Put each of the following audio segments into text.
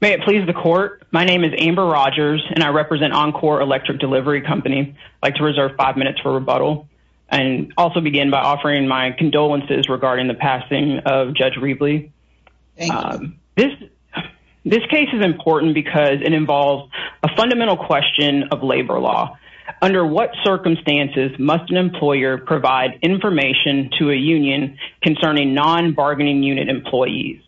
May it please the court. My name is Amber Rogers and I represent Encor Electric Delivery Company. I'd like to reserve five minutes for rebuttal and also begin by offering my condolences regarding the passing of Judge Riebley. This case is important because it involves a fundamental question of labor law. Under what circumstances must an employer provide information to a union concerning non-bargaining unit employees?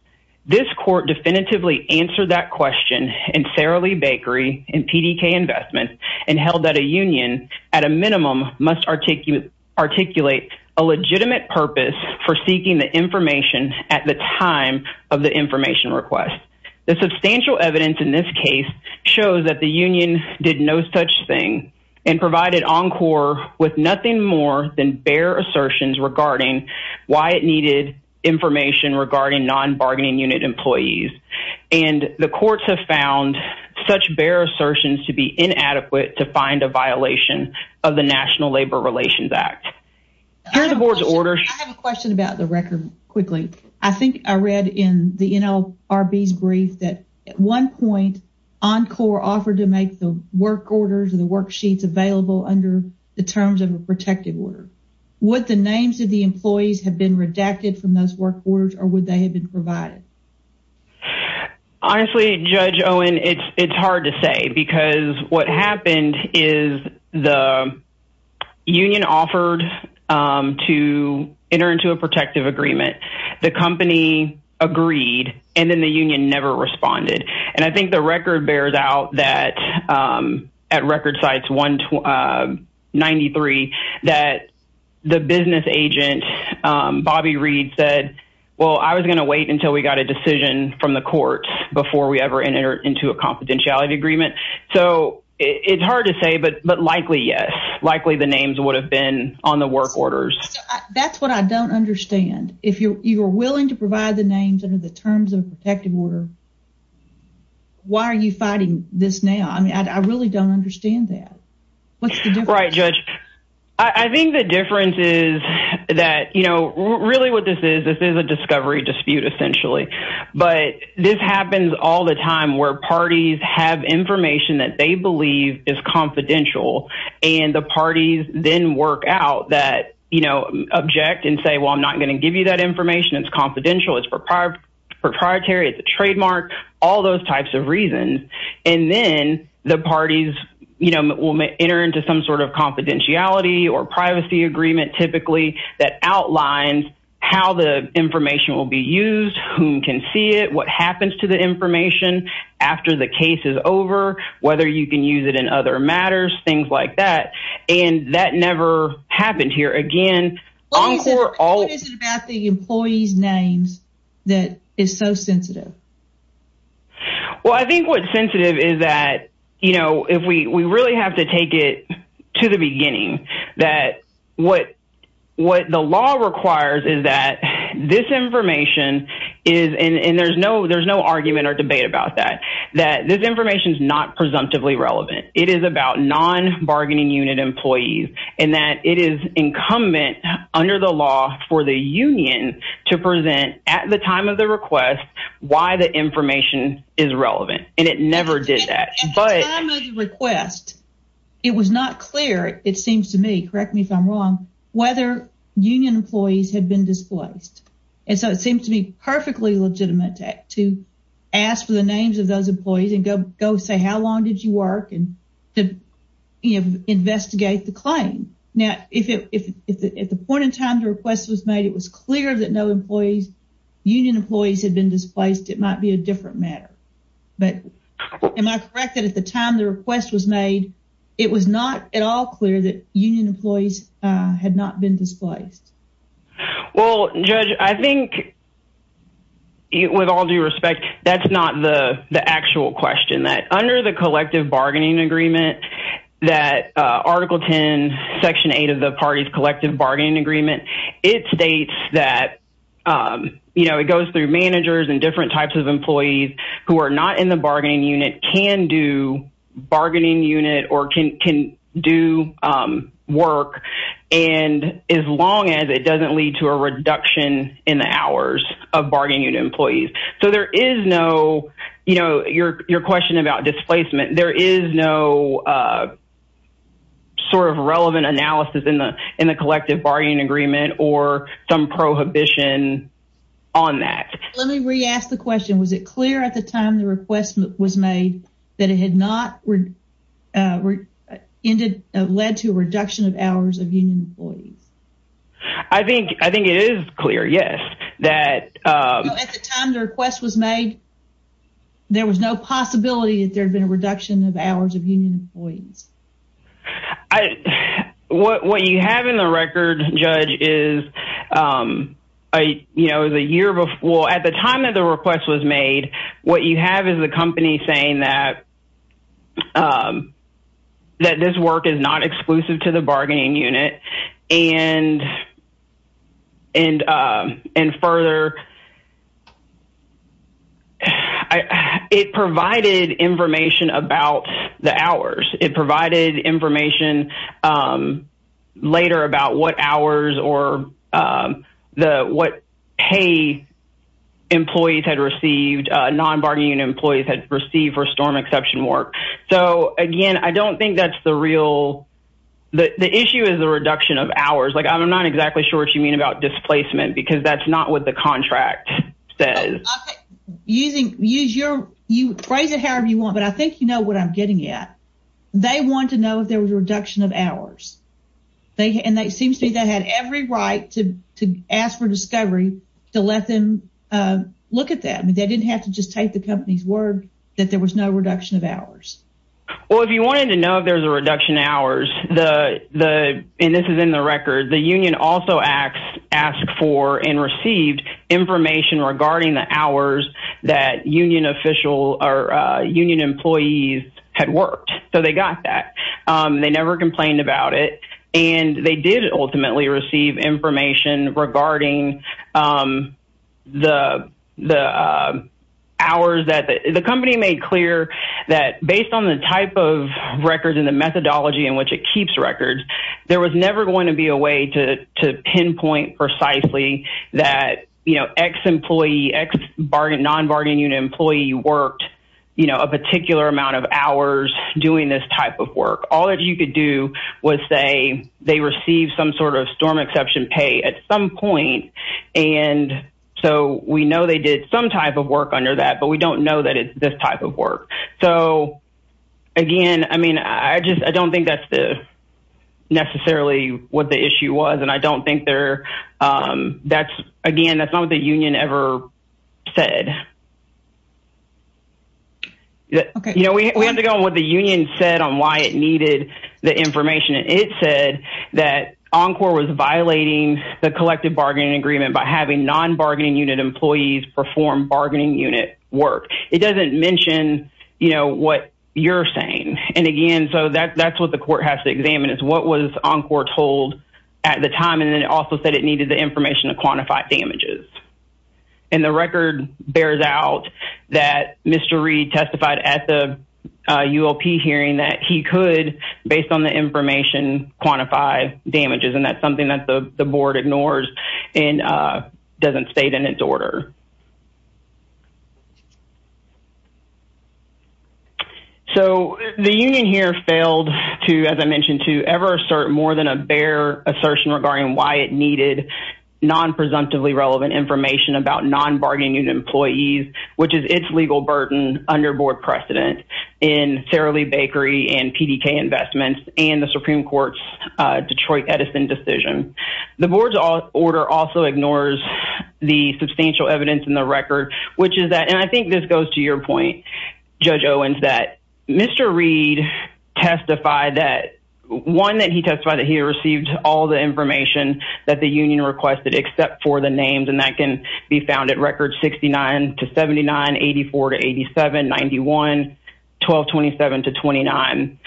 This court definitively answered that question in Sara Lee Bakery and PDK Investments and held that a union at a minimum must articulate a legitimate purpose for seeking the information at the time of the information request. The substantial evidence in this case shows that the union did no such thing and provided Encor with nothing more than bare assertions regarding why it needed information regarding non-bargaining unit employees and the courts have found such bare assertions to be inadequate to find a violation of the National Labor Relations Act. Here are the board's orders. I have a question about the record quickly. I think I read in the NLRB's brief that at one point Encor offered to make the work orders or the worksheets available under the terms of a protective order. Would the names of the employees have been redacted from those work orders or would they have been provided? Honestly, Judge Owen, it's hard to say because what happened is the union offered to enter into a protective agreement. The company agreed and then the union never responded and I at record sites 1993 that the business agent Bobby Reed said well I was going to wait until we got a decision from the courts before we ever entered into a confidentiality agreement. So, it's hard to say but likely yes. Likely the names would have been on the work orders. That's what I don't understand. If you're willing to provide the names under the terms of a protective order, why are you fighting this now? I mean I really don't understand that. What's the difference? Right, Judge. I think the difference is that you know really what this is this is a discovery dispute essentially but this happens all the time where parties have information that they believe is confidential and the parties then work out that you know object and say well I'm not going to give you that information. It's confidential. It's proprietary. It's a trademark. All those types of reasons and then the parties you know will enter into some sort of confidentiality or privacy agreement typically that outlines how the information will be used, whom can see it, what happens to the information after the case is over, whether you can use it in other matters, things like that and that never happened here again. What is it about the employee's names that is so sensitive? Well, I think what's sensitive is that you know if we we really have to take it to the beginning that what what the law requires is that this information is and there's no there's no argument or debate about that that this information is not presumptively relevant. It is about non-bargaining unit employees and that it is incumbent under the law for the union to present at the time of the request why the information is relevant and it never did that. At the time of the request it was not clear it seems to me, correct me if I'm wrong, whether union employees had been displaced and so it seems to me perfectly legitimate to ask for the names of those employees and go go say how long did you work and to you know investigate the claim. Now if at the point in time the request was made it was clear that no employees union employees had been displaced it might be a different matter but am I correct that at the time the request was made it was not at all clear that union employees had not been displaced? Well judge I think with all due respect that's not the the actual question that under the collective bargaining agreement that article 10 section 8 of the party's collective bargaining agreement it states that you know it goes through managers and different types of and as long as it doesn't lead to a reduction in the hours of bargaining unit employees so there is no you know your your question about displacement there is no sort of relevant analysis in the in the collective bargaining agreement or some prohibition on that. Let me re-ask the question was it clear at the time the request was made that it had not ended led to a reduction of hours of union employees? I think I think it is clear yes that at the time the request was made there was no possibility that there had been a reduction of hours of union employees. What what you have in the record judge is a you know the year before at the time that the request was made what you have is the company saying that that this work is not exclusive to the bargaining unit and and and further it provided information about the hours it provided information later about what hours or the what pay employees had received non-bargaining employees had received for storm exception work so again I don't think that's the real the the issue is the reduction of hours like I'm not exactly sure what you mean about displacement because that's not what the contract says. Using use your you phrase it however you want but I think you know what I'm getting at they want to know if there was a reduction of hours they and it seems to me they had every right to to ask for discovery to let them look at that I mean they didn't have to just take the company's word that there was no reduction of hours. Well if you wanted to know if there's a reduction hours the the and this is in the record the union also acts asked for and received information regarding the hours that union official or they got that they never complained about it and they did ultimately receive information regarding the the hours that the company made clear that based on the type of records in the methodology in which it keeps records there was never going to be a way to to pinpoint precisely that you know ex-employee ex-bargain non-bargaining unit employee worked you know a particular amount of hours doing this type of work all that you could do was say they received some sort of storm exception pay at some point and so we know they did some type of work under that but we don't know that it's this type of work so again I mean I just I don't think that's the necessarily what the issue was and I don't think they're that's again that's not what the union ever said okay you know we had to go on what the union said on why it needed the information and it said that Encore was violating the collective bargaining agreement by having non-bargaining unit employees perform bargaining unit work it doesn't mention you know what you're saying and again so that that's what the court has to examine is what was Encore told at the time and then it also said it needed the information to quantify damages and the record bears no out that Mr. Reed testified at the ULP hearing that he could based on the information quantify damages and that's something that the board ignores and doesn't state in its order so the union here failed to as I mentioned to ever assert more than a bare assertion regarding why it needed non-presumptively relevant information about non-bargaining employees which is its legal burden under board precedent in Sara Lee Bakery and PDK investments and the Supreme Court's Detroit Edison decision the board's order also ignores the substantial evidence in the record which is that and I think this goes to your point Judge Owens that Mr. Reed testified that one that he testified that he received all the information that the union requested except for the names and that can be found at records 69 to 79 84 to 87 91 12 27 to 29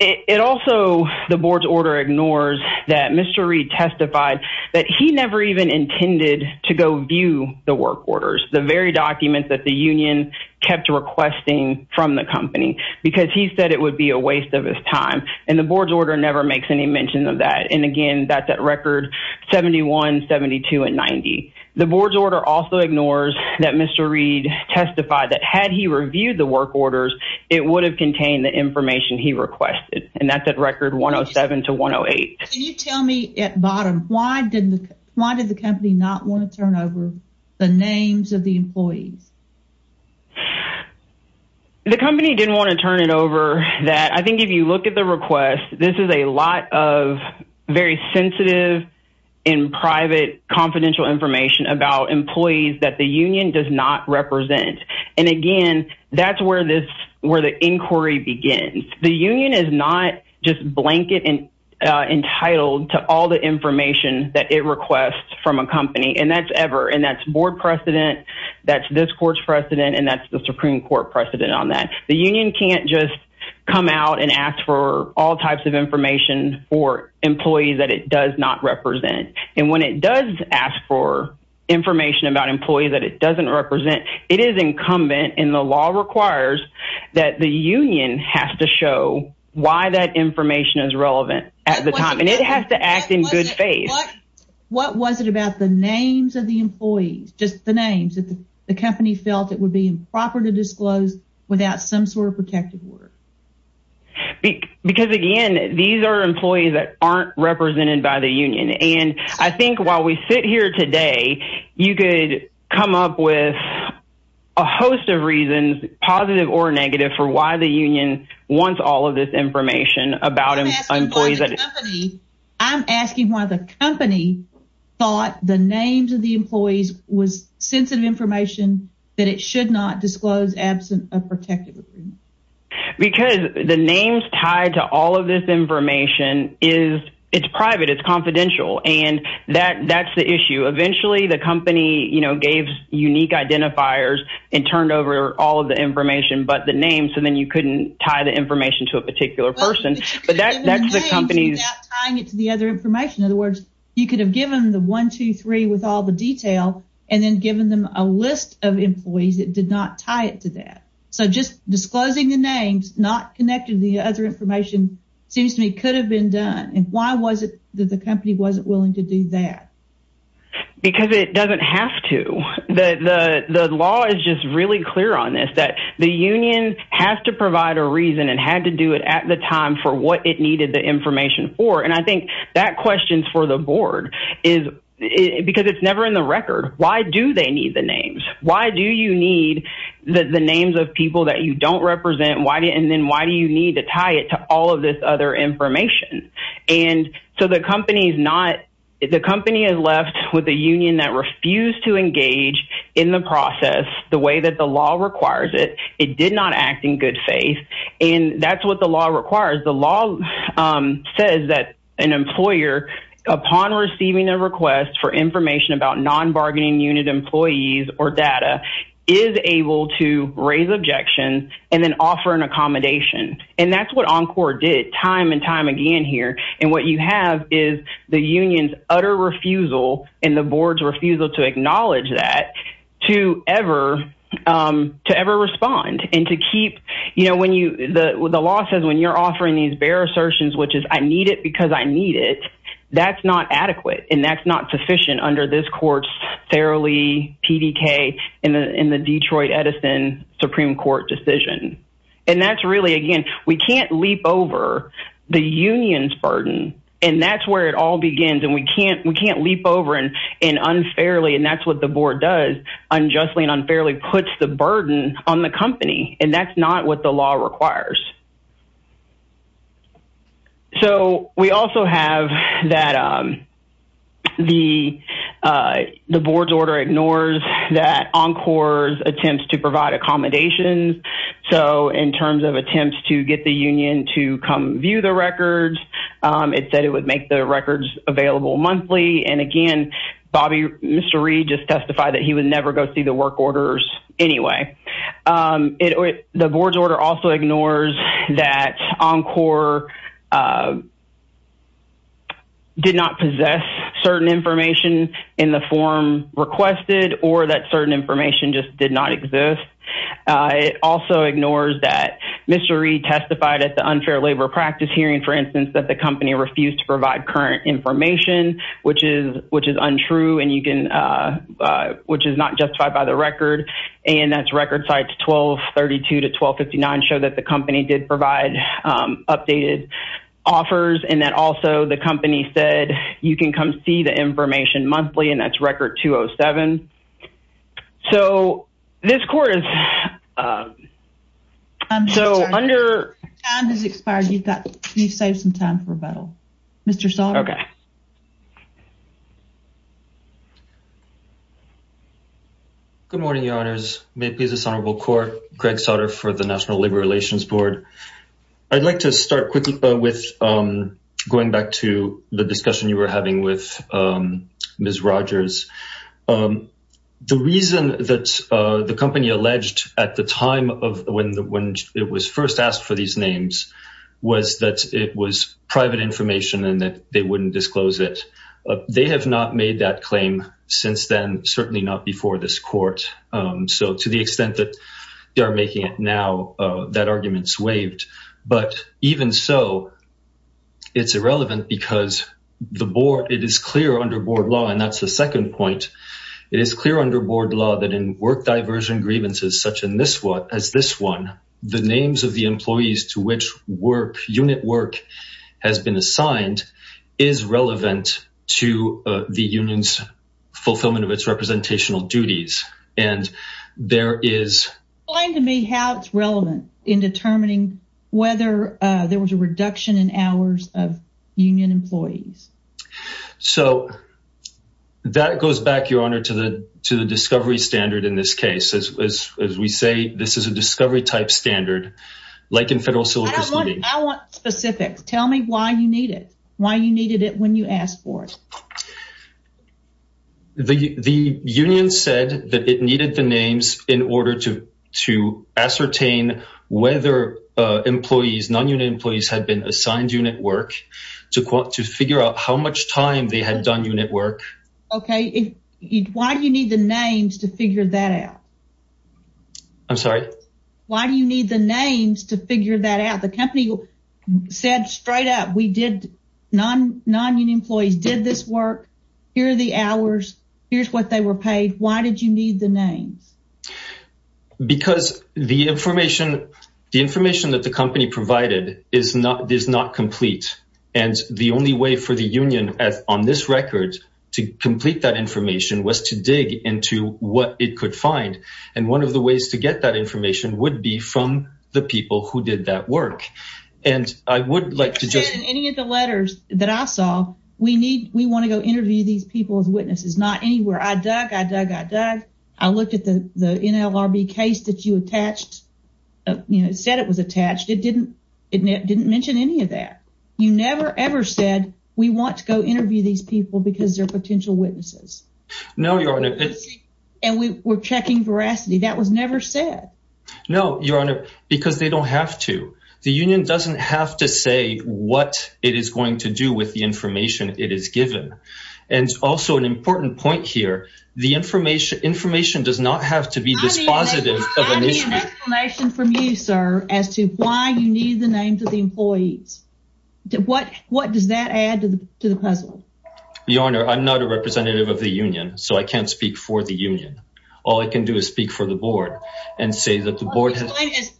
it also the board's order ignores that Mr. Reed testified that he never even intended to go view the work orders the very documents that the union kept requesting from the company because he said it would be a and the board's order never makes any mention of that and again that's at record 71 72 and 90 the board's order also ignores that Mr. Reed testified that had he reviewed the work orders it would have contained the information he requested and that's at record 107 to 108. Can you tell me at bottom why did the why did the company not want to turn over the names of the employees? The company didn't want to turn it over that I think if you look at the request this is a lot of very sensitive and private confidential information about employees that the union does not represent and again that's where this where the inquiry begins the union is not just blanket and entitled to all the information that it requests from a company and that's ever that's board precedent that's this court's precedent and that's the supreme court precedent on that the union can't just come out and ask for all types of information for employees that it does not represent and when it does ask for information about employees that it doesn't represent it is incumbent and the law requires that the union has to show why that information is relevant at the time and it has to act in good faith. What was it about the names of the employees just the names that the company felt it would be improper to disclose without some sort of protective order? Because again these are employees that aren't represented by the union and I think while we sit here today you could come up with a host of reasons positive or negative for why the union wants all of this information about employees. I'm asking why the company thought the names of the employees was sensitive information that it should not disclose absent a protective agreement. Because the names tied to all of this information is it's private it's confidential and that that's the issue eventually the company you know gave unique identifiers and turned over all of the information but the name so then you couldn't tie the information to a particular person but that's the company's tying it to the other information in other words you could have given the one two three with all the detail and then given them a list of employees that did not tie it to that so just disclosing the names not connected to the other information seems to me could have been done and why was it that the company wasn't willing to do that? Because it doesn't have to the the the law is just really clear on this that the union has to provide a reason and had to do it at the time for what it needed the information for and I think that questions for the board is because it's never in the record why do they need the names why do you need the the names of people that you don't represent why and then why do you need to tie it to all of this other information and so the company is not the company is left with a union that refused to engage in the process the way that the law requires it it did not act in good faith and that's what the law requires the law says that an employer upon receiving a request for information about non-bargaining unit employees or data is able to raise objections and then offer an accommodation and that's what Encore did time and time again here and what you have is the union's refusal and the board's refusal to acknowledge that to ever to ever respond and to keep you know when you the the law says when you're offering these bare assertions which is I need it because I need it that's not adequate and that's not sufficient under this court's thoroughly pdk in the in the Detroit Edison Supreme Court decision and that's really again we can't leap over the union's burden and that's where it all begins and we can't we can't leap over and and unfairly and that's what the board does unjustly and unfairly puts the burden on the company and that's not what the law requires so we also have that um the uh the board's order ignores that Encore's attempts to provide accommodations so in terms of attempts to get the union to come view the records it said it would make the records available monthly and again Bobby Mr. Reed just testified that he would never go see the work orders anyway um it the board's order also ignores that Encore did not possess certain information in the form requested or that certain information just did not exist it also ignores that Mr. Reed testified at the unfair labor practice hearing for instance that the company refused to provide current information which is which is untrue and you can uh uh which is not justified by the record and that's record sites 1232 to 1259 show that the company did provide um updated offers and that also the company said you can come see the information monthly and that's record 207 so this court is um so under time has expired you've got you've saved some time for rebuttal Mr. Sautter okay good morning your honors may please this honorable court Greg Sautter for the national labor relations board I'd like to start quickly with um going back to the discussion you were having with um Ms. Rogers um the reason that uh the company alleged at the time of when the when it was first asked for these names was that it was private information and that they wouldn't disclose it they have not made that claim since then certainly not before this court um so to the that argument's waived but even so it's irrelevant because the board it is clear under board law and that's the second point it is clear under board law that in work diversion grievances such in this one as this one the names of the employees to which work unit work has been assigned is relevant to the union's fulfillment of its representational duties and there is explain to me how it's relevant in determining whether uh there was a reduction in hours of union employees so that goes back your honor to the to the discovery standard in this case as as we say this is a discovery type standard like in federal solicitors I want specifics tell me why you need it why you needed it when you asked for it um the the union said that it needed the names in order to to ascertain whether uh employees non-union employees had been assigned unit work to figure out how much time they had done unit work okay why do you need the names to figure that out I'm sorry why do you need the names to figure that out the company said straight up we did non-non-union employees did this work here are the hours here's what they were paid why did you need the names because the information the information that the company provided is not does not complete and the only way for the union as on this record to complete that information was to dig into what it could find and one of the ways to get that work and I would like to just any of the letters that I saw we need we want to go interview these people as witnesses not anywhere I dug I dug I dug I looked at the the NLRB case that you attached you know said it was attached it didn't it didn't mention any of that you never ever said we want to go interview these people because they're potential witnesses no your honor and we were checking veracity that was never said no your honor because they don't have to the union doesn't have to say what it is going to do with the information it is given and also an important point here the information information does not have to be dispositive of an issue from you sir as to why you need the names of the employees what what does that add to the puzzle your honor I'm not a representative of the union so I can't speak for the union all I can do is speak for the board and say that the board has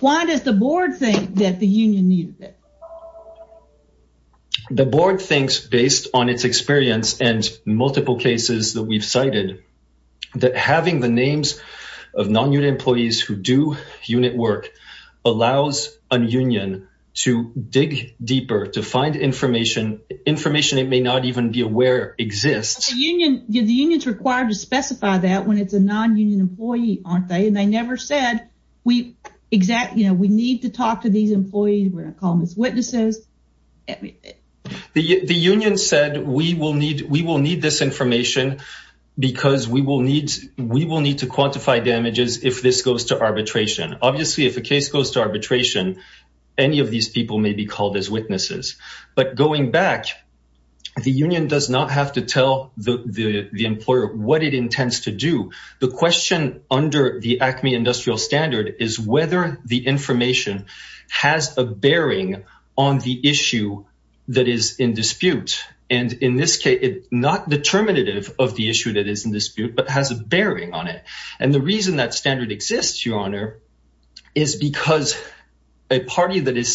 why does the board think that the union needed it the board thinks based on its experience and multiple cases that we've cited that having the names of non-union employees who do unit work allows a union to dig deeper to find information information it may not even be aware exists the union the union's required to specify that when it's a non-union employee aren't they and they never said we exactly you know we need to talk to these employees we're going to call them as witnesses the the union said we will need we will need this information because we will need we will need to quantify damages if this goes to arbitration obviously if a case goes to arbitration any of these people may be called as witnesses but going back the union does not have to tell the the employer what it intends to do the question under the acme industrial standard is whether the information has a bearing on the issue that is in dispute and in this case not determinative of the issue that is in dispute but has a bearing on it and the reason that standard exists your honor is because a party that is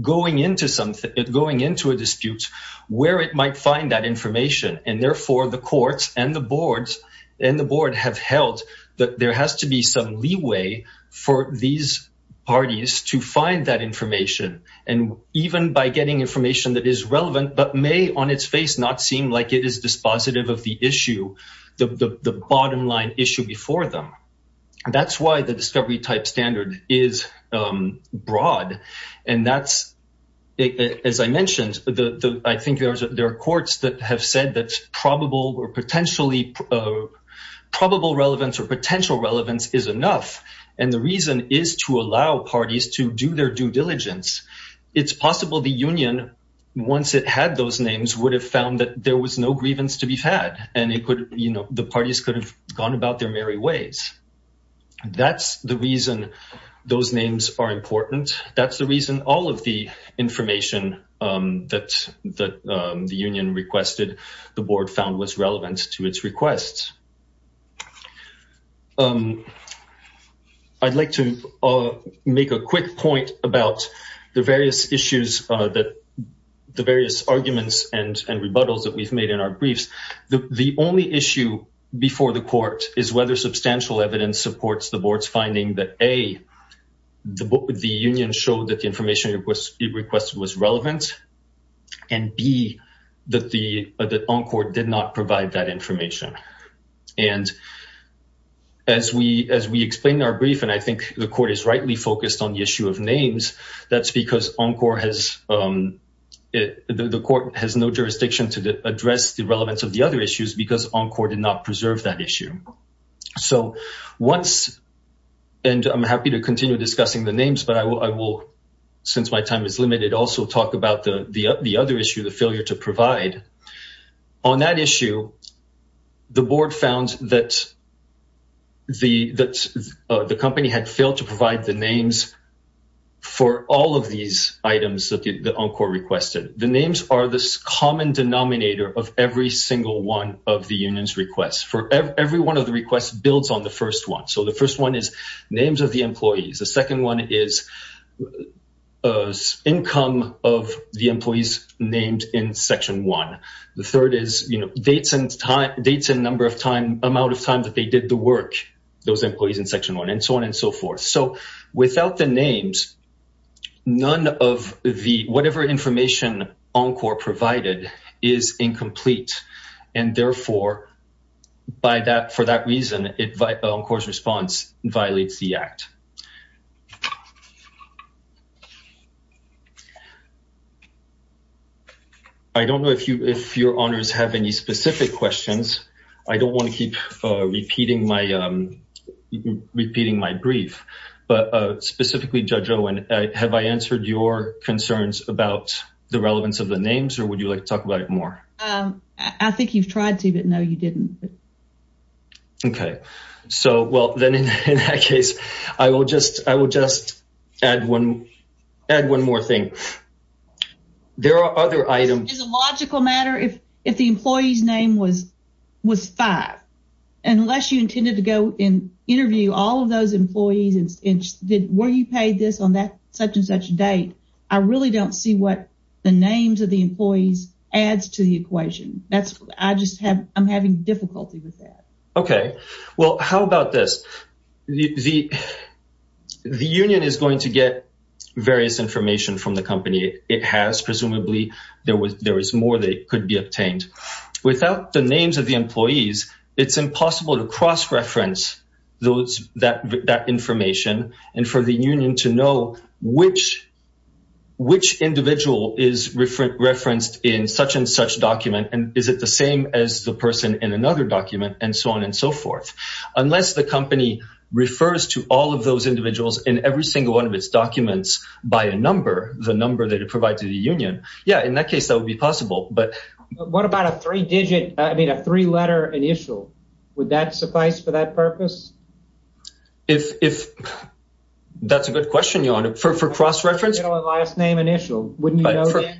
going into something going into a dispute where it might find that information and therefore the courts and the boards and the board have held that there has to be some leeway for these parties to find that information and even by getting information that is relevant but may on its face not seem like it is dispositive of the issue the the bottom line issue before them that's why the discovery type standard is broad and that's as i mentioned the i think there's there are courts that have said that probable or potentially probable relevance or potential relevance is enough and the reason is to allow parties to do their due diligence it's possible the union once it had those names would have found that there was no grievance to be had and it could you know the parties could have gone about their merry ways that's the reason those names are important that's the reason all of the information um that that um the union requested the board found was relevant to its requests um i'd like to uh make a quick point about the various issues uh that the various arguments and and rebuttals that we've made in our briefs the the only issue before the court is whether substantial evidence supports the board's finding that a the book the union showed that the information it was it requested was relevant and b that the that encore did not provide that information and as we as we explain our brief and i think the court is rightly focused on the issue of names that's because encore has um it the court has no jurisdiction to address the relevance of the other issues because encore did not preserve that issue so once and i'm happy to continue discussing the names but i will i will since my time is limited also talk about the the other issue the failure to provide on that issue the board found that the that the company had failed to provide the names for all of these items that the encore requested the names are this common denominator of every single one of the union's requests for every one of the requests builds on the first one so the first one is names of the employees the second one is uh income of the employees named in section one the third is you know dates and time dates and number of time amount of time that they did the those employees in section one and so on and so forth so without the names none of the whatever information encore provided is incomplete and therefore by that for that reason it by encore's response violates the act i don't know if you if your honors have any specific questions i don't want to keep uh repeating my um repeating my brief but uh specifically judge owen have i answered your concerns about the relevance of the names or would you like to talk about it more i think you've tried to but no you didn't okay so well then in that case i will just i will just add one add one more thing there are other items is a logical matter if if the employee's name was five unless you intended to go and interview all of those employees and where you paid this on that such and such date i really don't see what the names of the employees adds to the equation that's i just have i'm having difficulty with that okay well how about this the the union is going to get various information from the company it has presumably there was there was more that could be obtained without the names of the employees it's impossible to cross reference those that that information and for the union to know which which individual is referenced in such and such document and is it the same as the person in another document and so on and so forth unless the company refers to all of those individuals in every single one of its documents by a number the number that it provides to the union yeah in that case that would be possible but what about a three digit i mean a three letter initial would that suffice for that purpose if if that's a good question your honor for for cross reference last name initial wouldn't you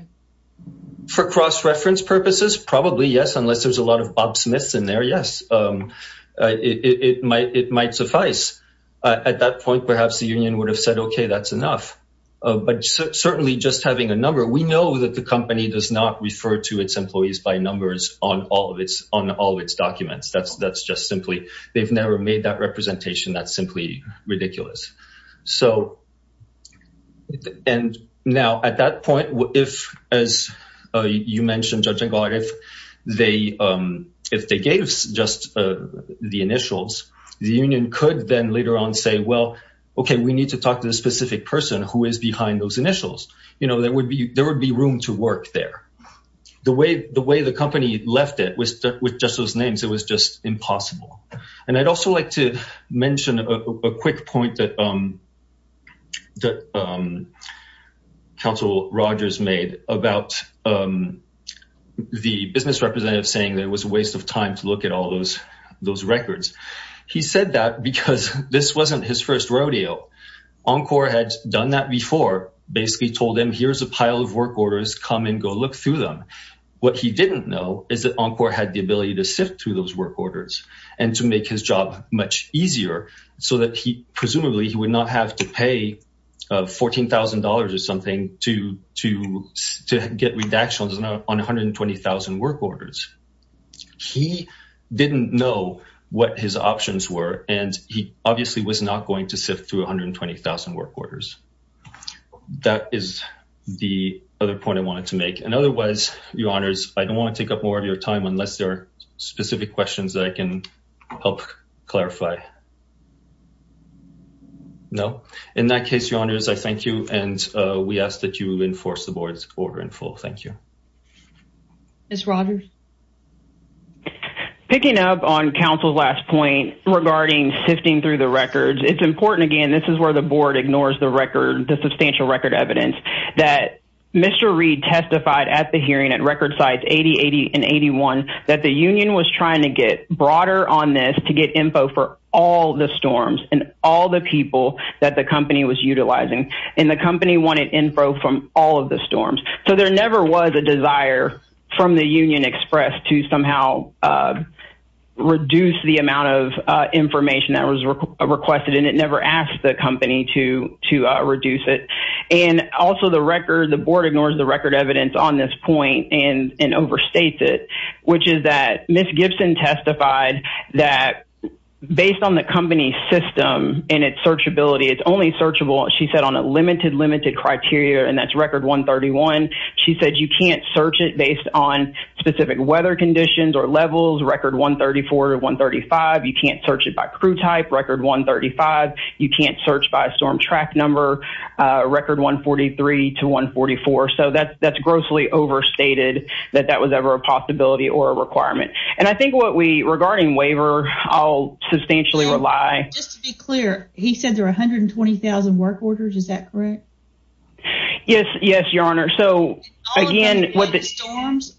for cross reference purposes probably yes unless there's a lot of bob smith's in there yes um it might it might suffice at that point perhaps the union would have said okay that's enough but certainly just having a number we know that the company does not refer to its employees by numbers on all of its on all its documents that's that's just simply they've never made that representation that's simply ridiculous so and now at that point if as you mentioned judging god if they um if they gave just uh the initials the union could then later on say well okay we need to talk to the specific person who is behind those initials you know there would be there would be room to work there the way the way the company left it was with just those names it was just impossible and i'd also like to mention a quick point that um that um council rogers made about um the business representative saying that it was a waste of time to look at all those those records he said that because this wasn't his first rodeo encore had done that before basically told him here's a pile of work orders come and go look through them what he didn't know is that encore had the ability to sift through those work orders and to make his job much easier so that he presumably he would not have to pay uh fourteen thousand dollars or something to to get redactions on 120,000 work orders he didn't know what his options were and he obviously was not going to sift through 120,000 work orders that is the other point i wanted to make and otherwise your honors i don't want to take up more of your time unless there are specific questions that i can help clarify no in that case your honors i thank you and uh we ask that you enforce the board's order in full thank you miss rogers picking up on council's last point regarding sifting through the records it's important again this is where the board ignores the record the substantial record evidence that mr reed testified at the hearing at record size 80 80 and 81 that the union was trying to get broader on this to get info for all the storms and all the people that the company was utilizing and the company wanted info from all of the storms so there never was a desire from the union express to somehow reduce the amount of information that was requested and it never asked the company to to reduce it and also the record the board ignores the record evidence on this point and and overstates it which is that miss gibson testified that based on the company's system and its searchability it's only searchable she said on a limited limited criteria and that's record 131 she said you can't search it based on specific weather conditions or levels record 134 135 you can't search it by crew type record 135 you can't search by storm track number record 143 to 144 so that that's grossly overstated that that was a possibility or a requirement and i think what we regarding waiver i'll substantially rely just to be clear he said there are 120,000 work orders is that correct yes yes your honor so again what the storms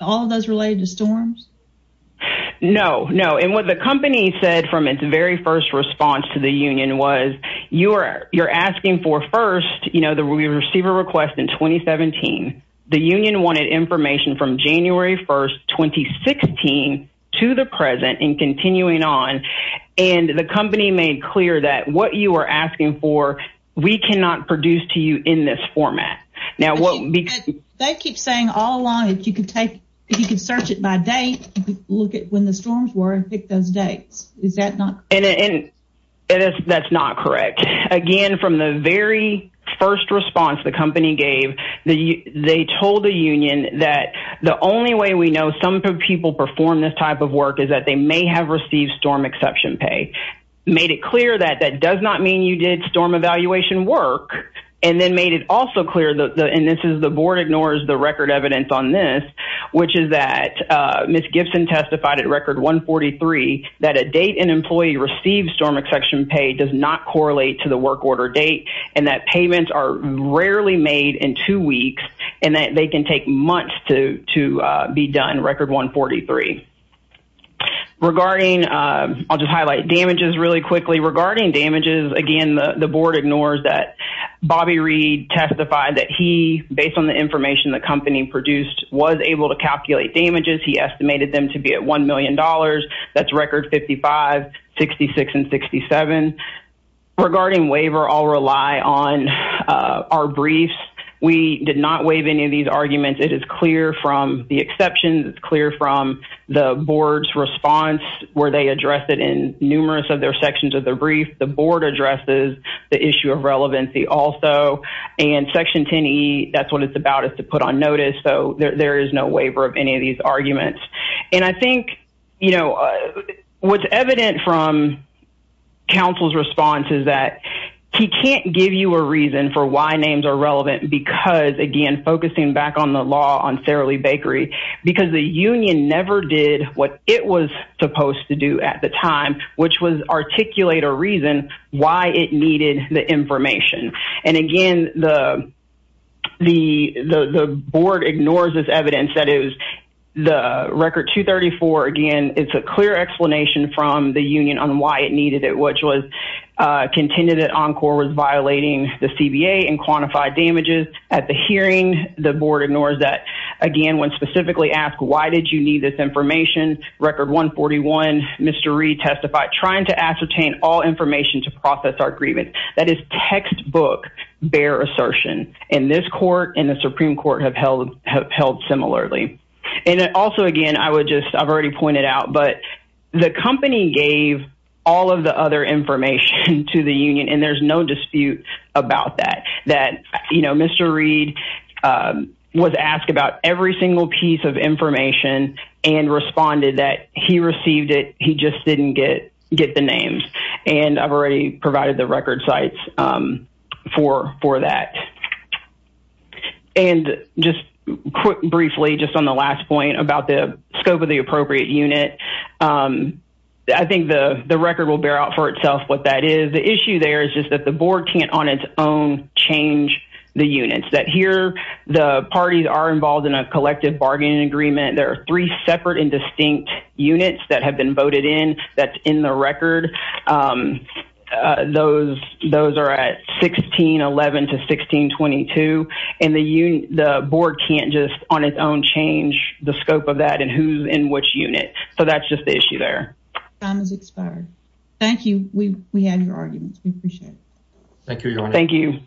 all those related to storms no no and what the company said from its very first response to the union was you're you're asking for first you know the receiver request in 2017 the union wanted information from january 1st 2016 to the present and continuing on and the company made clear that what you are asking for we cannot produce to you in this format now what because they keep saying all along if you could take if you could search it by date look at when the storms were and pick those dates is that not and and that's not correct again from the very first response the company gave the they told the union that the only way we know some people perform this type of work is that they may have received storm exception pay made it clear that that does not mean you did storm evaluation work and then made it also clear that the and this is the board ignores the record evidence on this which is that uh miss gifson testified at record 143 that a date an employee receives storm exception pay does not correlate to the work order date and that payments are rarely made in two weeks and that they can take months to to uh be done record 143 regarding uh i'll just highlight damages really quickly regarding damages again the board ignores that bobby reed testified that he based on the information the company produced was able to calculate damages he estimated them to be at one million dollars that's record 55 66 and 67 regarding waiver i'll rely on uh our briefs we did not waive any of these arguments it is clear from the exception it's clear from the board's response where they address it in numerous of their sections of the brief the board addresses the issue of relevancy also and section 10e that's what it's about is to put on notice so there is no waiver of any of these arguments and i think you know what's evident from council's response is that he can't give you a reason for why names are relevant because again focusing back on the law on saralee bakery because the union never did what it was supposed to do at the time which was articulate a reason why it needed the information and again the the the board ignores this evidence that is the record 234 again it's a clear explanation from the union on why it needed it which was uh contended that encore was violating the cba and quantified damages at the hearing the board ignores that again when specifically asked why did you need this information record 141 mr reed testified trying to ascertain all information to process our grievance that is textbook bear assertion and this court and the supreme court have held have held similarly and also again i would just i've already pointed out but the company gave all of the other information to the union and there's no dispute about that that you know mr reed was asked about every single piece of information and responded that he received it just didn't get get the names and i've already provided the record sites um for for that and just briefly just on the last point about the scope of the appropriate unit um i think the the record will bear out for itself what that is the issue there is just that the board can't on its own change the units that here the parties are involved in a collective bargaining agreement there are three separate and distinct units that have been voted in that's in the record um those those are at 16 11 to 16 22 and the union the board can't just on its own change the scope of that and who's in which unit so that's just the issue there time has expired thank you we we had your arguments we appreciate it thank you thank you